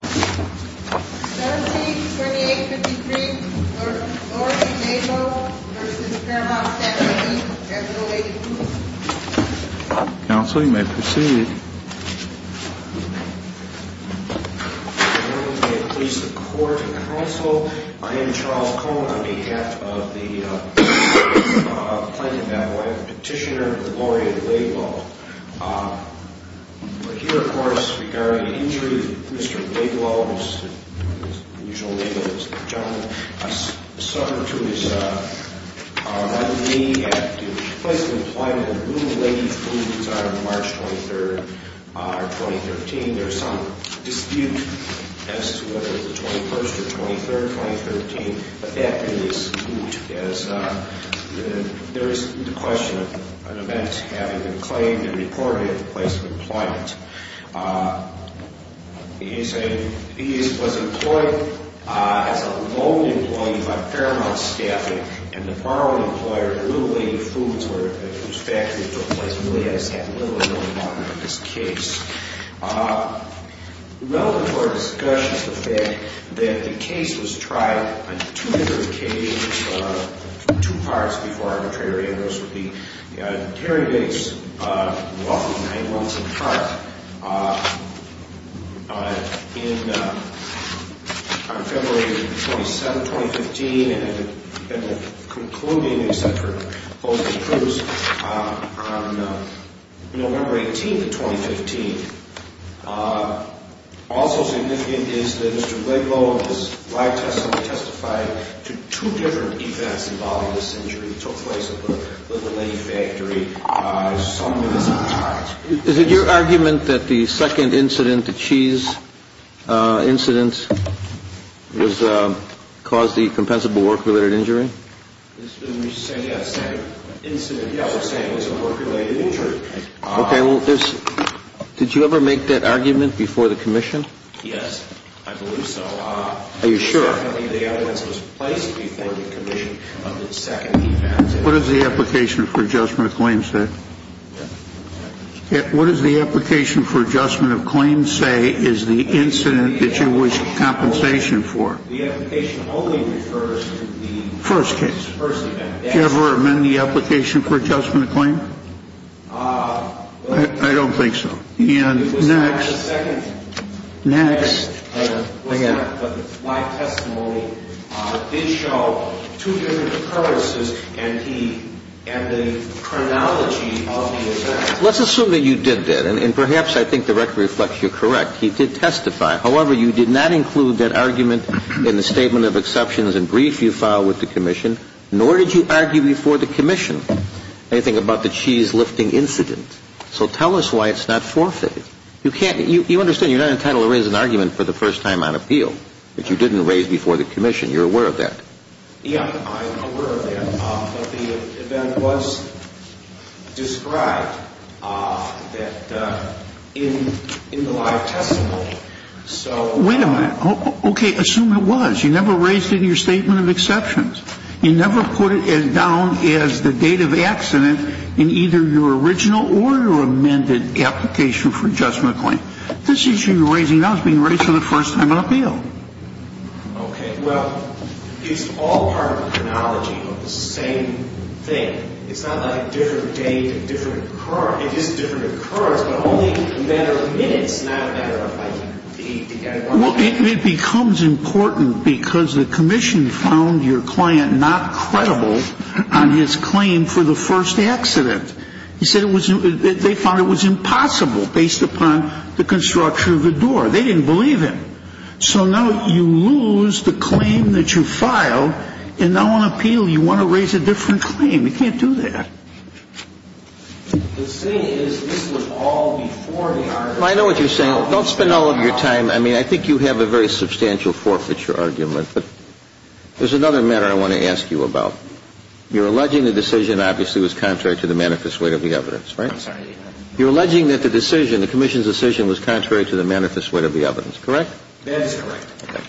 172853 Laurie Laidlow v. Fairmont Standard E. Counsel, you may proceed. Good morning. May it please the Court and Counsel, I am Charles Cohen on behalf of the Planned Parenthood petitioner, Laurie Laidlow. We're here, of course, regarding an injury to Mr. Laidlow, whose usual name is John. He suffered to his right knee at the place of employment at the Blue Lady Foods on March 23rd, 2013. There's some dispute as to whether it was the 21st or 23rd, 2013, but that is moot, as there is the question of an event having been claimed and reported at the place of employment. He was employed as a loan employee by Fairmont Staffing, and the borrowing employer at Blue Lady Foods, whose factory it took place, really has had little or no involvement in this case. Relative to our discussion is the fact that the case was tried on two different occasions, two parts before arbitration, and those would be Gary Vick's lawful nine months of trial. On February 27th, 2015, and concluding, except for opposing proofs, on November 18th, 2015, also significant is that Mr. Laidlow has righteously testified to two different events involving this injury. It took place at the Blue Lady factory. Is it your argument that the second incident, the cheese incident, caused the compensable work-related injury? Okay, well, did you ever make that argument before the commission? Yes, I believe so. Are you sure? Definitely the evidence was placed before the commission on the second event. What does the application for adjustment of claims say? What does the application for adjustment of claims say is the incident that you wish compensation for? The application only refers to the first event. First case. Did you ever amend the application for adjustment of claim? I don't think so. Next. My testimony did show two different occurrences and the chronology of the events. Let's assume that you did that, and perhaps I think the record reflects you're correct. He did testify. However, you did not include that argument in the statement of exceptions and brief you filed with the commission, nor did you argue before the commission anything about the cheese-lifting incident. So tell us why it's not forfeit. You understand you're not entitled to raise an argument for the first time on appeal that you didn't raise before the commission. You're aware of that. Yes, I'm aware of that. But the event was described in the live testimony. Wait a minute. Okay, assume it was. You never raised it in your statement of exceptions. You never put it down as the date of accident in either your original or your amended application for adjustment of claim. This issue you're raising now is being raised for the first time on appeal. Okay. Well, it's all part of the chronology of the same thing. It's not like a different date, a different occurrence. It is a different occurrence, but only a matter of minutes, not a matter of, like, the other one. Well, it becomes important because the commission found your client not credible on his claim for the first accident. He said it was they found it was impossible based upon the construction of the door. They didn't believe him. So now you lose the claim that you filed, and now on appeal you want to raise a different claim. You can't do that. The thing is this was all before the argument. I know what you're saying. Don't spend all of your time. I mean, I think you have a very substantial forfeiture argument, but there's another matter I want to ask you about. You're alleging the decision obviously was contrary to the manifest weight of the evidence, right? I'm sorry. You're alleging that the decision, the commission's decision, was contrary to the manifest weight of the evidence, correct? That is correct. Okay.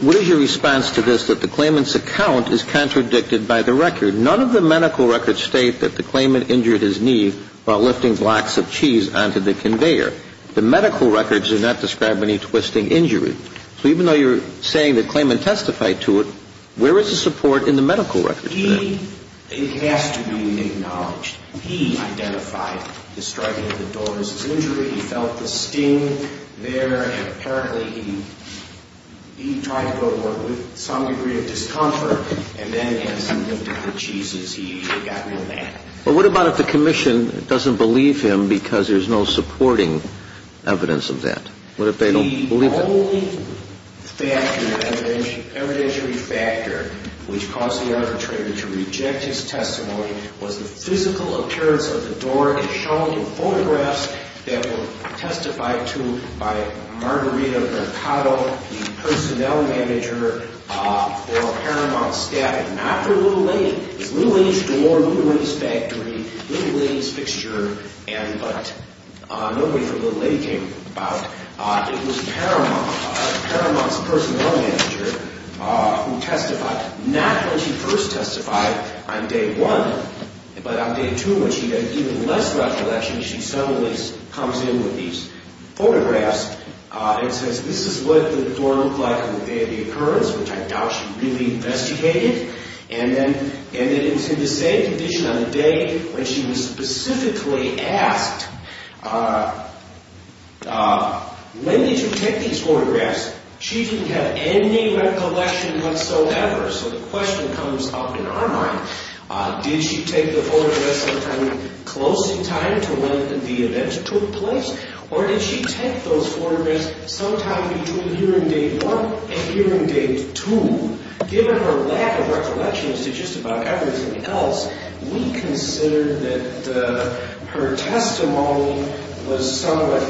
What is your response to this, that the claimant's account is contradicted by the record? None of the medical records state that the claimant injured his knee while lifting blocks of cheese onto the conveyor. The medical records do not describe any twisting injury. So even though you're saying the claimant testified to it, where is the support in the medical records for that? It has to be acknowledged. He identified the striking of the door as an injury. He felt the sting there, and apparently he tried to go to work with some degree of discomfort, and then as he lifted the cheeses, he got real mad. But what about if the commission doesn't believe him because there's no supporting evidence of that? What if they don't believe him? The only factor, evidentiary factor, which caused the arbitrator to reject his testimony was the physical appearance of the door. It's shown in photographs that were testified to by Margarita Mercado, the personnel manager for Paramount staff. Not for Little Lady. It's Little Lady's door, Little Lady's factory, Little Lady's fixture, but nobody from Little Lady came about. It was Paramount's personnel manager who testified, not when she first testified on day one, but on day two when she had even less recollection, she suddenly comes in with these photographs and says, this is what the door looked like on the day of the occurrence, which I doubt she really investigated, and then it was in the same condition on the day when she was specifically asked, when did you take these photographs? She didn't have any recollection whatsoever, so the question comes up in our mind, did she take the photographs sometime close in time to when the event took place, or did she take those photographs sometime between hearing day one and hearing day two? Given her lack of recollection as to just about everything else, we consider that her testimony was somewhat,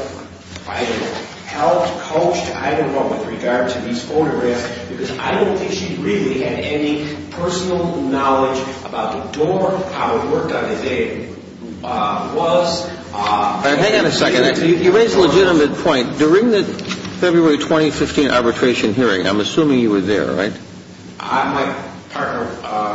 I don't know, helped, coached, I don't know, with regard to these photographs, because I don't think she really had any personal knowledge about the door, how it worked on the day, how it was. Hang on a second. You raise a legitimate point. During the February 2015 arbitration hearing, I'm assuming you were there, right? My partner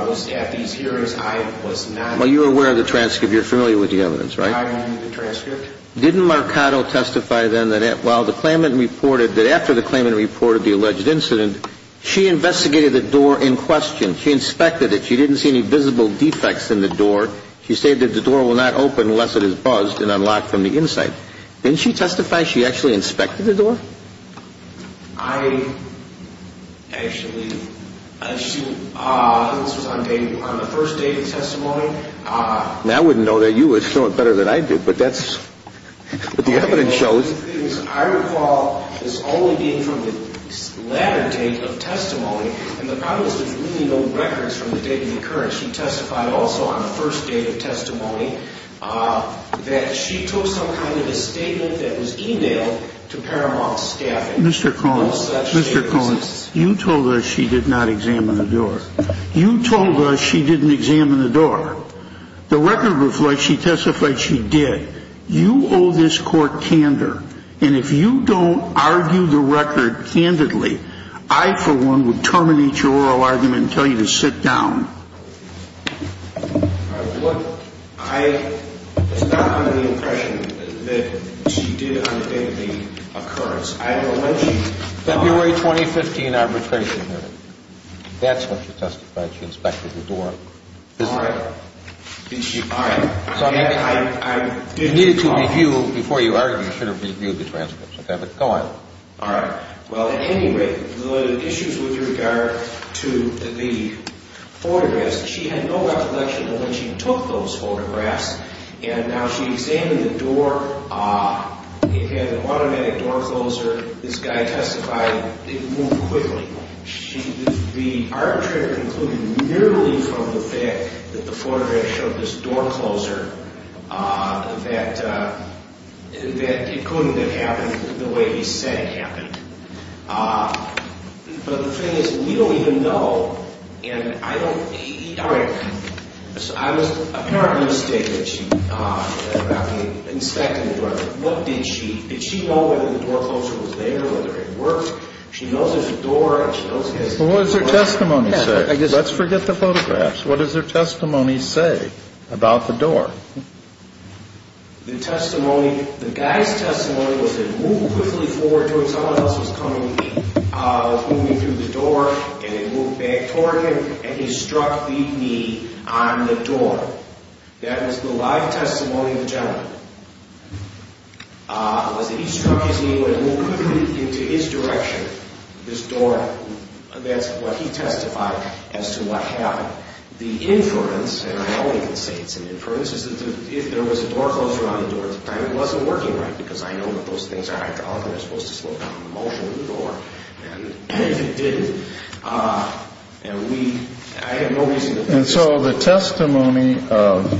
was at these hearings. I was not. Well, you were aware of the transcript. You're familiar with the evidence, right? I knew the transcript. Didn't Marcato testify then that while the claimant reported, that after the claimant reported the alleged incident, she investigated the door in question. She inspected it. She didn't see any visible defects in the door. She stated the door will not open unless it is buzzed and unlocked from the inside. Didn't she testify she actually inspected the door? I actually, she, this was on the first day of the testimony. Now, I wouldn't know that you would show it better than I did, but that's, but the evidence shows. I recall this only being from the latter day of testimony, and the problem is there's really no records from the day of the occurrence. She testified also on the first day of testimony that she took some kind of a statement that was emailed to Paramount staffing. Mr. Cohen, Mr. Cohen, you told us she did not examine the door. You told us she didn't examine the door. The record reflects she testified she did. You owe this court candor, and if you don't argue the record candidly, I, for one, would terminate your oral argument and tell you to sit down. I, it's not under the impression that she did undertake the occurrence. I don't know when she. February 2015 arbitration hearing. That's when she testified she inspected the door. All right. Did she, all right. You needed to review before you argued, you should have reviewed the transcripts, but go on. All right. Well, at any rate, the issues with regard to the photographs, she had no recollection of when she took those photographs, and now she examined the door. It had an automatic door closer. This guy testified it moved quickly. The arbitrator concluded merely from the fact that the photograph showed this door closer that it couldn't have happened the way he said it happened. But the thing is, we don't even know, and I don't. All right. I was apparently mistaken that she inspected the door. What did she, did she know whether the door closer was there, whether it worked? She knows there's a door, and she knows he has a door. Well, what does her testimony say? Let's forget the photographs. What does her testimony say about the door? The testimony, the guy's testimony was it moved quickly forward toward someone else was coming, was moving through the door, and it moved back toward him, and he struck the knee on the door. That was the live testimony of the gentleman, was that he struck his knee and it moved quickly into his direction, this door. That's what he testified as to what happened. But the inference, and I only can say it's an inference, is that if there was a door closer on the door at the time, it wasn't working right because I know what those things are. After all, they're supposed to slow down the motion of the door, and it didn't. And we, I have no reason to believe that. And so the testimony of,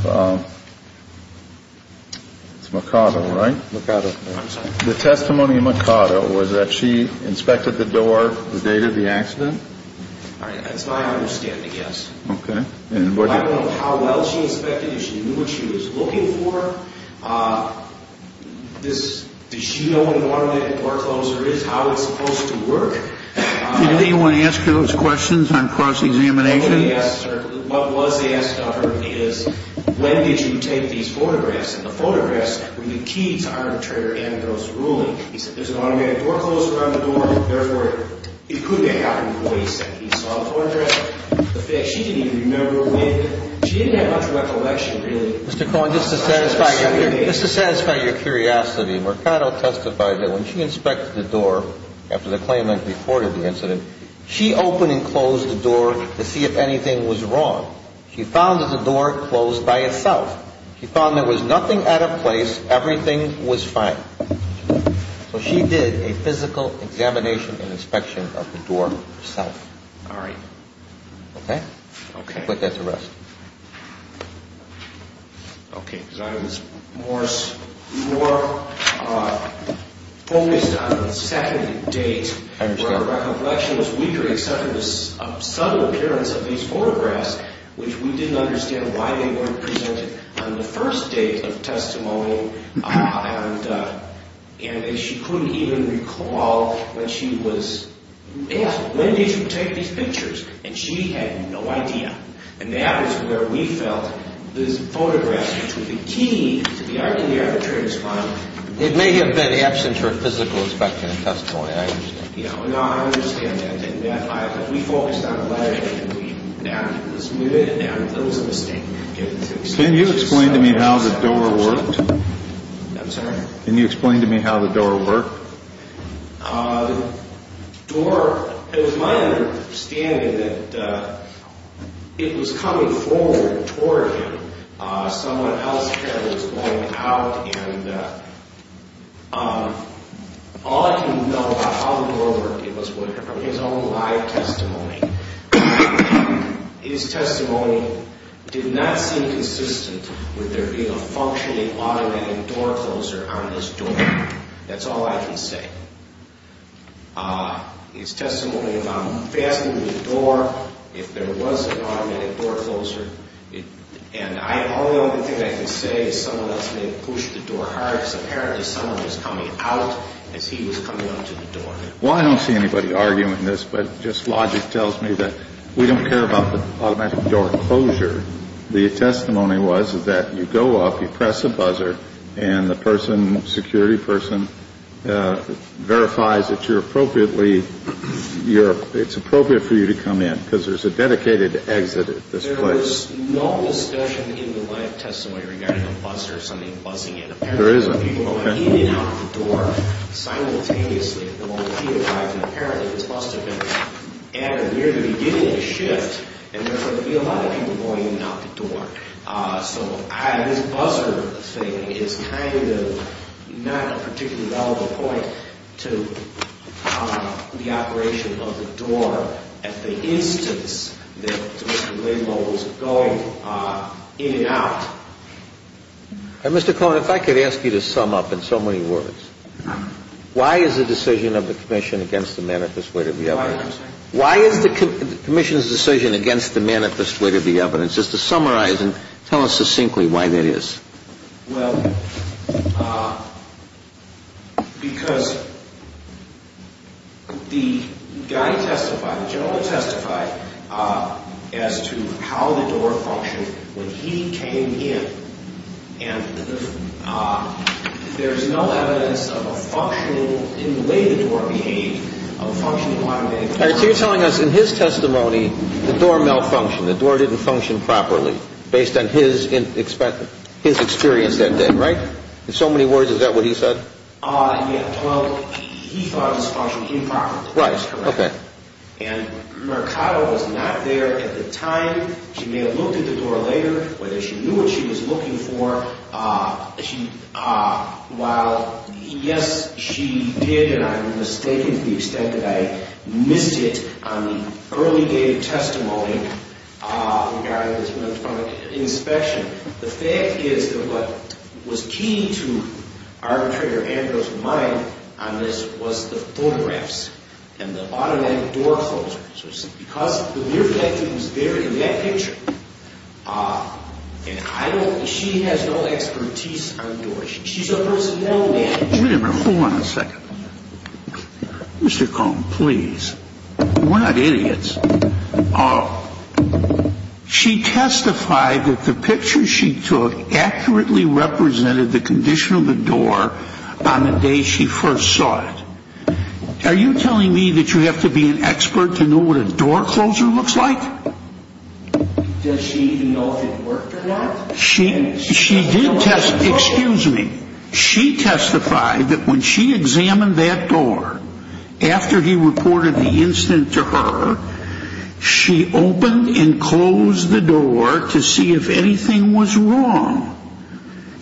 it's Mercado, right? Mercado. I'm sorry. The testimony of Mercado was that she inspected the door the date of the accident? All right, that's my understanding, yes. Okay. I don't know how well she inspected it. She knew what she was looking for. Does she know what an automated door closer is, how it's supposed to work? Did anyone ask her those questions on cross-examination? Yes, sir. What was asked of her is when did you take these photographs? And the photographs were the key to arbitrator Andros' ruling. He said there's an automated door closer on the door, therefore it could have happened before he said he saw the photograph. The fact she didn't even remember when, she didn't have much recollection, really. Mr. Cohen, just to satisfy your curiosity, Mercado testified that when she inspected the door after the claimant reported the incident, she opened and closed the door to see if anything was wrong. She found that the door closed by itself. She found there was nothing out of place. Everything was fine. So she did a physical examination and inspection of the door herself. All right. Okay? Okay. I'll put that to rest. Okay. Because I was more focused on the second date. I understand. Where recollection was weaker except for the subtle appearance of these photographs, which we didn't understand why they weren't presented on the first date of testimony. And she couldn't even recall when she was asked, when did you take these pictures? And she had no idea. And that was where we felt this photograph, which was the key to the arbitrator's finding. It may have been absent her physical inspection and testimony. I understand. No, I understand that. We focused on the letterhead and we adapted to this movement. And there was a mistake. Can you explain to me how the door worked? I'm sorry? Can you explain to me how the door worked? The door, it was my understanding that it was coming forward toward him. Someone else's head was going out. And all I can know about how the door worked, it was from his own live testimony. His testimony did not seem consistent with there being a functioning automatic door closer on this door. That's all I can say. His testimony about fastening the door, if there was an automatic door closer. And the only other thing I can say is someone else may have pushed the door hard because apparently someone was coming out as he was coming up to the door. Well, I don't see anybody arguing this, but just logic tells me that we don't care about the automatic door closure. The testimony was that you go up, you press a buzzer, and the person, security person, verifies that you're appropriately, it's appropriate for you to come in because there's a dedicated exit at this place. There's no discussion in the live testimony regarding a buzzer or something buzzing in. Apparently people were coming in and out of the door simultaneously. Apparently this must have been at or near the beginning of the shift. And there's a lot of people going in and out the door. So this buzzer thing is kind of not a particularly relevant point to the operation of the door. But at the instance that Mr. Blaymore was going in and out. Mr. Cohen, if I could ask you to sum up in so many words. Why is the decision of the commission against the manifest way to the evidence? Why is the commission's decision against the manifest way to the evidence? Just to summarize and tell us succinctly why that is. Well, because the guy testified, the general testified, as to how the door functioned when he came in. And there's no evidence of a functional, in the way the door behaved, of a functioning automatic door. So you're telling us in his testimony the door malfunctioned, the door didn't function properly, based on his experience that day, right? In so many words, is that what he said? Yeah, well, he thought it was functioning improperly. Right, okay. And Mercado was not there at the time. She may have looked at the door later, whether she knew what she was looking for. While, yes, she did, and I'm mistaken to the extent that I missed it, on the early day testimony, the guy that was in front of the inspection, the fact is that what was key to arbitrator Andros' mind on this was the photographs and the automatic door closures. Because the mere fact that he was there in that picture, and I don't, she has no expertise on doors. She's a personnel manager. Wait a minute, hold on a second. Mr. Cohn, please. We're not idiots. Oh. She testified that the picture she took accurately represented the condition of the door on the day she first saw it. Are you telling me that you have to be an expert to know what a door closer looks like? Does she even know if it worked or not? She did test, excuse me. She testified that when she examined that door, after he reported the incident to her, she opened and closed the door to see if anything was wrong.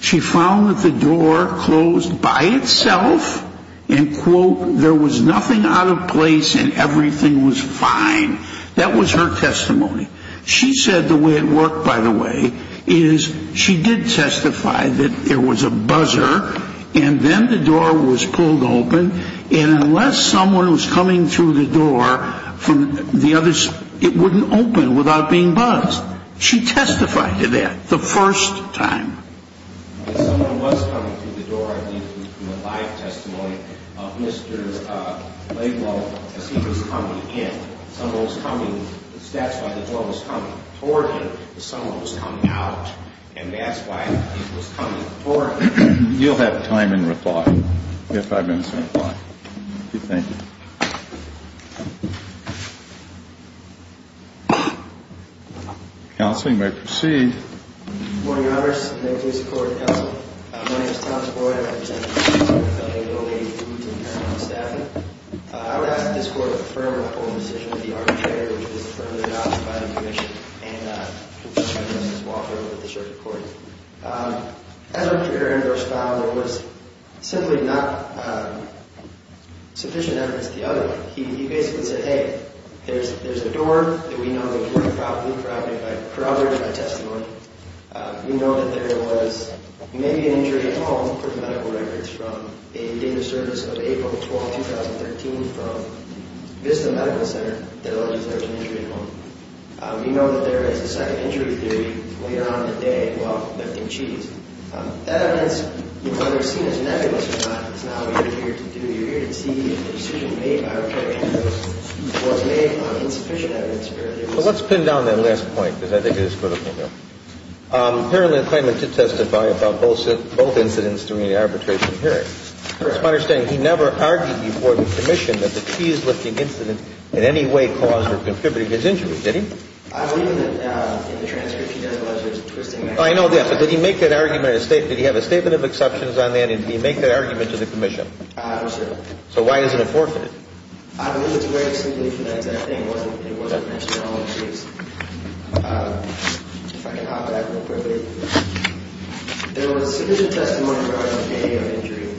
She found that the door closed by itself and, quote, there was nothing out of place and everything was fine. That was her testimony. She said the way it worked, by the way, is she did testify that there was a buzzer and then the door was pulled open and unless someone was coming through the door from the other side, it wouldn't open without being buzzed. She testified to that the first time. If someone was coming through the door, I believe from a live testimony, Mr. Laidlaw, as he was coming in. Someone was coming. That's why the door was coming toward him. Someone was coming out, and that's why he was coming toward him. You'll have time in reply if I've been certified. Thank you. Counsel, you may proceed. Good morning, Your Honors. May it please the Court. Counsel, my name is Thomas Boyd. I represent the Affiliate of O'Leary Foods and Paranormal Staffing. I would ask that this Court affirm my full decision with the arbitrator, which was affirmed in the Ops Dividing Commission, and Mr. Laidlaw to walk over to the Circuit Court. As our interviewer found, there was simply not sufficient evidence to the other one. He basically said, hey, there's a door that we know the employee probably corroborated by testimony. We know that there was maybe an injury at home, according to medical records from a data service of April 12, 2013, from Vista Medical Center that alleged there was an injury at home. We know that there is a second injury theory later on in the day, well, lifting cheese. That evidence, whether it's seen as negligence or not, is not what you're here to do. You're here to see if the decision made by Rep. Ambrose was made on insufficient evidence. Well, let's pin down that last point, because I think it is critical here. Apparently, the claimant did testify about both incidents during the arbitration hearing. It's my understanding he never argued before the Commission that the cheese-lifting incident in any way caused or contributed to his injury, did he? I believe that in the transcript he does allege there's a twisting mechanism. I know that, but did he make that argument, did he have a statement of exceptions on that, and did he make that argument to the Commission? No, sir. So why is it a forfeit? I believe it's very simply for that exact thing. It wasn't mentioned at all in the case. If I can hop back real quickly. There was sufficient testimony regarding the day of injury.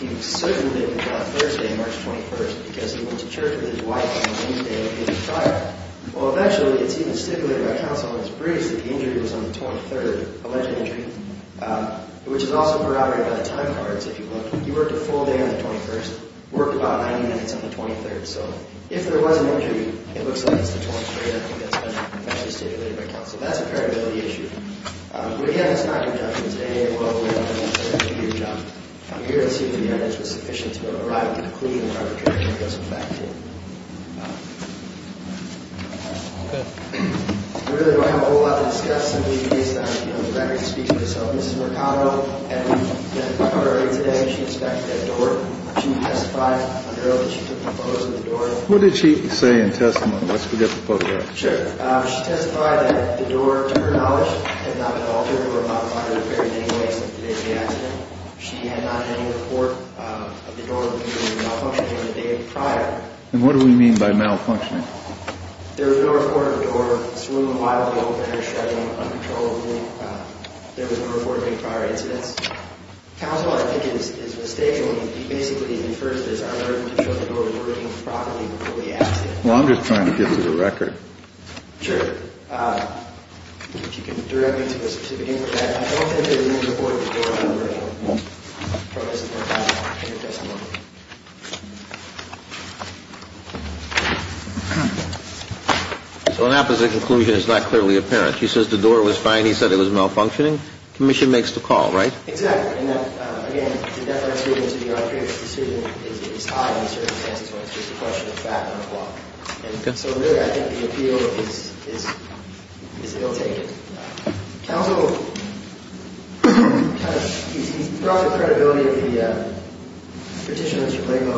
He was certain that he got it Thursday, March 21st, because he went to church with his wife on a Monday when he was tired. Well, eventually, it's even stipulated by counsel in his briefs that the injury was on the 23rd, alleged injury, which is also corroborated by the time cards, if you look. He worked a full day on the 21st, worked about 90 minutes on the 23rd. So if there was an injury, it looks like it's the 23rd. I think that's been stipulated by counsel. That's a credibility issue. But, again, it's not your judgment today. Well, we don't have an answer. It's your job. We're here to see if the evidence was sufficient to arrive at the conclusion of arbitration that goes with that claim. I really don't have a whole lot to discuss. What did she say in testimony? Let's forget the photograph. Sure. She testified that the door, to her knowledge, had not been altered or modified or repaired in any way since the day of the accident. She had not had any report of the door being malfunctioning on the day prior. And what do we mean by malfunctioning? There was no report of the door swooning wildly open or shrugging uncontrollably. There was no report of any prior incidents. Counsel, I think, is misstating. He basically infers that it's our burden to show the door was working properly before we asked it. Well, I'm just trying to give you the record. Sure. If you can direct me to a certificate for that. So an apposite conclusion is not clearly apparent. She says the door was fine. He said it was malfunctioning. Commission makes the call, right? Exactly. And, again, the deference here to your previous decision is high in the circumstances when it's just a question of fact and a plot. And so, really, I think the appeal is ill-taken. Counsel, I don't think that we can avoid the door on the original. He brought the credibility of the petitioner, Mr. Blago,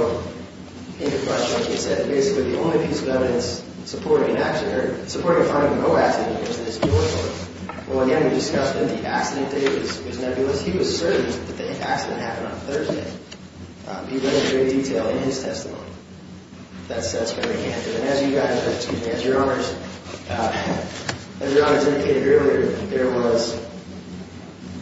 into question. He said basically the only piece of evidence supporting a finding of no accident is this door swoon. Well, again, we discussed that the accident date was nebulous. He was certain that the accident happened on Thursday. He went into great detail in his testimony. That's very handsome. And as you guys, excuse me, as your Honors, as your Honors indicated earlier, there was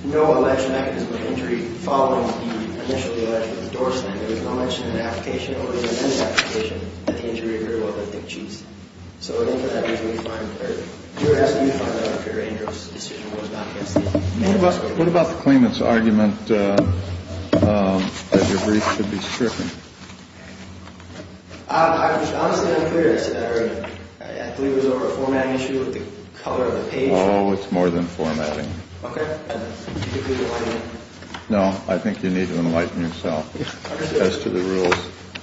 no alleged mechanism of injury following the initially alleged door swoon. There was no mention in the application or in any application that the injury occurred while lifting sheets. So I think for that reason, we find, or your Honor, you find that Dr. Andrews' decision was not against it. What about the claimant's argument that your brief should be stricken? I was honestly unclear as to that argument. I believe it was over a format issue with the color of the page. Oh, it's more than formatting. Okay. No, I think you need to enlighten yourself as to the rules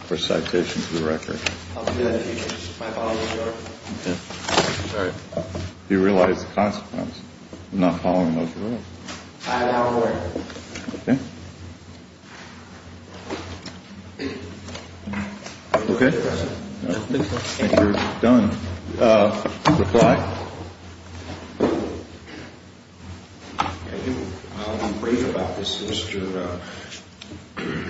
for citation to the record. Okay. Do you realize the consequence of not following those rules? Okay. Okay. I think you're done. Reply. I'll be brief about this. Mr.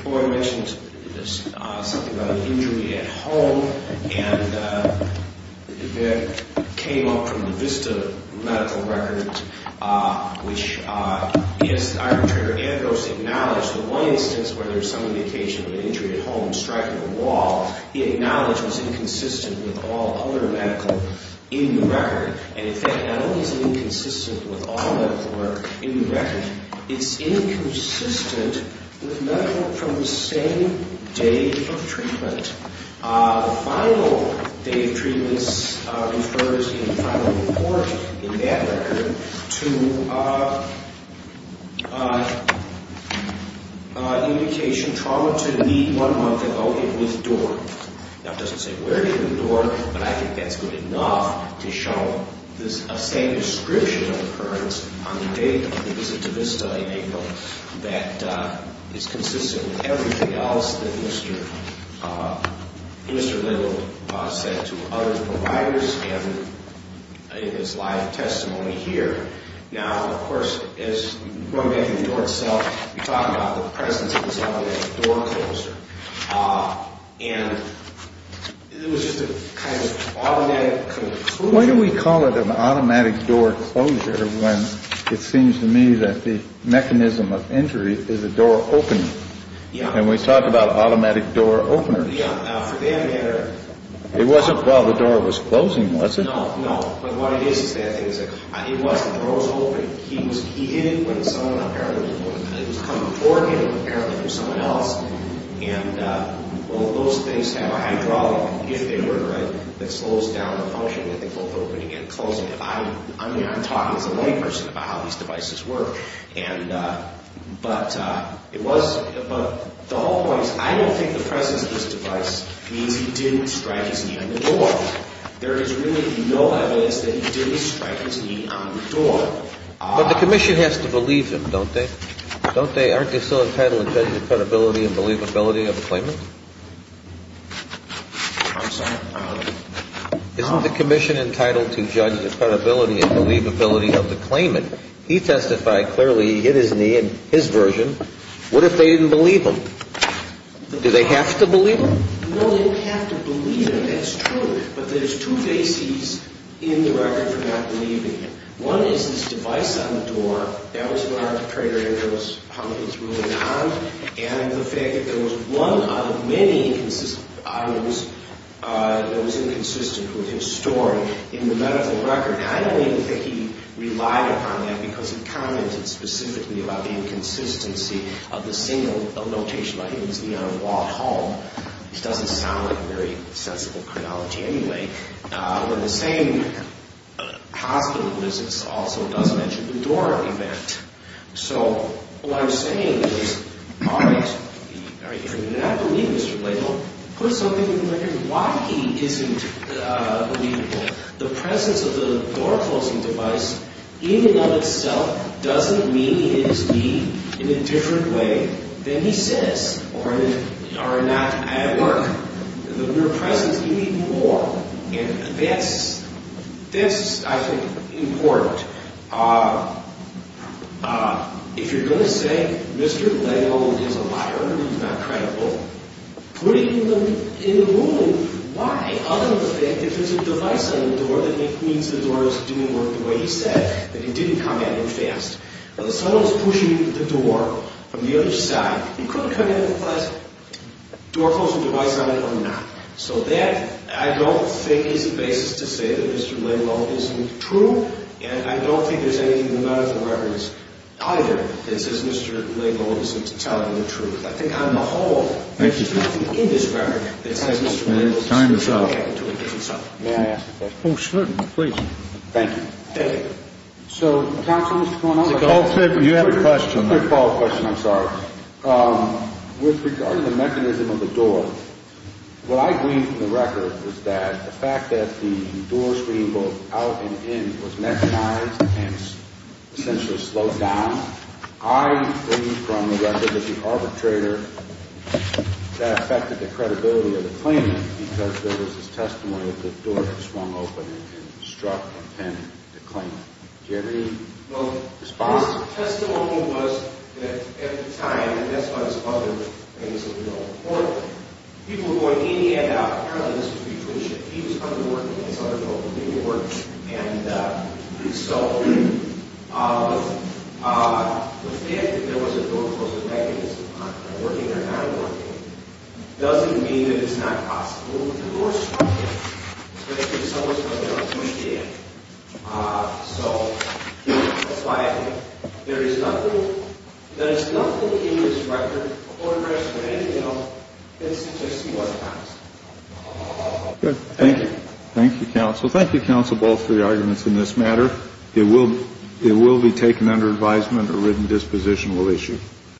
Boyle mentioned something about an injury at home, and that came up from the VISTA medical record, which is Iron Trigger Antidotes acknowledge the one instance where there's some indication of an injury at home striking a wall. He acknowledged it was inconsistent with all other medical in the record. And, in fact, not only is it inconsistent with all medical work in the record, it's inconsistent with medical from the same day of treatment. The final day of treatment refers in the final report in that record to indication trauma to the knee one month ago. It withdrew. Now, it doesn't say where it withdrew, but I think that's good enough to show the same description of occurrence on the day of the visit to VISTA in April that is consistent with everything else that Mr. Little said to other providers in his live testimony here. Now, of course, going back to the door itself, you talked about the presence of this automatic door closer. And it was just a kind of automatic conclusion. Why do we call it an automatic door closure when it seems to me that the mechanism of injury is a door opening? And we talked about automatic door openers. It wasn't while the door was closing, was it? No, no. But what it is is that it was when the door was opening. He hit it when someone apparently was coming toward him, apparently it was someone else. And all those things have a hydraulic, if they were, right, that slows down the function of the door opening and closing. I mean, I'm talking as a layperson about how these devices work. But the whole point is I don't think the presence of this device means he didn't strike his knee on the door. There is really no evidence that he didn't strike his knee on the door. But the commission has to believe them, don't they? Don't they? Aren't they still entitled to judge the credibility and believability of the claimant? I'm sorry? Isn't the commission entitled to judge the credibility and believability of the claimant? He testified clearly he hit his knee in his version. What if they didn't believe him? Do they have to believe him? No, they don't have to believe him. That's true. But there's two bases in the record for not believing him. One is this device on the door. That was when Arthur Prager and those publicans ruled it on. And the fact that there was one out of many items that was inconsistent with his story in the medical record. I don't even think he relied upon that because he commented specifically about the inconsistency of the single notation. He hit his knee on a wall at home. This doesn't sound like very sensible chronology anyway. But the same hospital visits also doesn't mention the door event. So what I'm saying is, all right, if you do not believe Mr. Blayhill, put something in the medical record. And why he isn't believable, the presence of the door-closing device in and of itself doesn't mean he hit his knee in a different way than he says or not at work. The mere presence can mean more. And that's, I think, important. If you're going to say Mr. Blayhill is a liar and he's not credible, put it in the ruling. Why? Other than the fact that there's a device on the door that means the door is doing work the way he said, that he didn't come at him fast. Now, the son-in-law's pushing the door from the other side. He couldn't come at him with a door-closing device on it or not. So that, I don't think, is the basis to say that Mr. Blayhill isn't true. And I don't think there's anything in the medical records either that says Mr. Blayhill isn't telling the truth. I think, on the whole, there's nothing in this record that says Mr. Blayhill is doing something. May I ask a question? Oh, certainly. Please. Thank you. Thank you. So, counsel, what's going on? You have a question. A quick follow-up question, I'm sorry. With regard to the mechanism of the door, what I agree from the record is that the fact that the door screen both out and in was mechanized and essentially slowed down, I agree from the record that the arbitrator, that affected the credibility of the claimant because there was this testimony that the door had swung open and struck and pinned the claimant. Do you have any response? Well, this testimony was, at the time, and that's why this other case is important. People were going in and out. Apparently, this was retribution. He was underworking. It's underprivileged. He was working. And so, the fact that there was a door-closing mechanism, whether they were working or not working, doesn't mean that it's not possible. The door swung in. So, that's why I think there is nothing in this record or in the rest of it, you know, that suggests he wasn't honest. Thank you. Thank you, counsel. Thank you, counsel, both for your arguments in this matter. It will be taken under advisement. A written disposition will issue.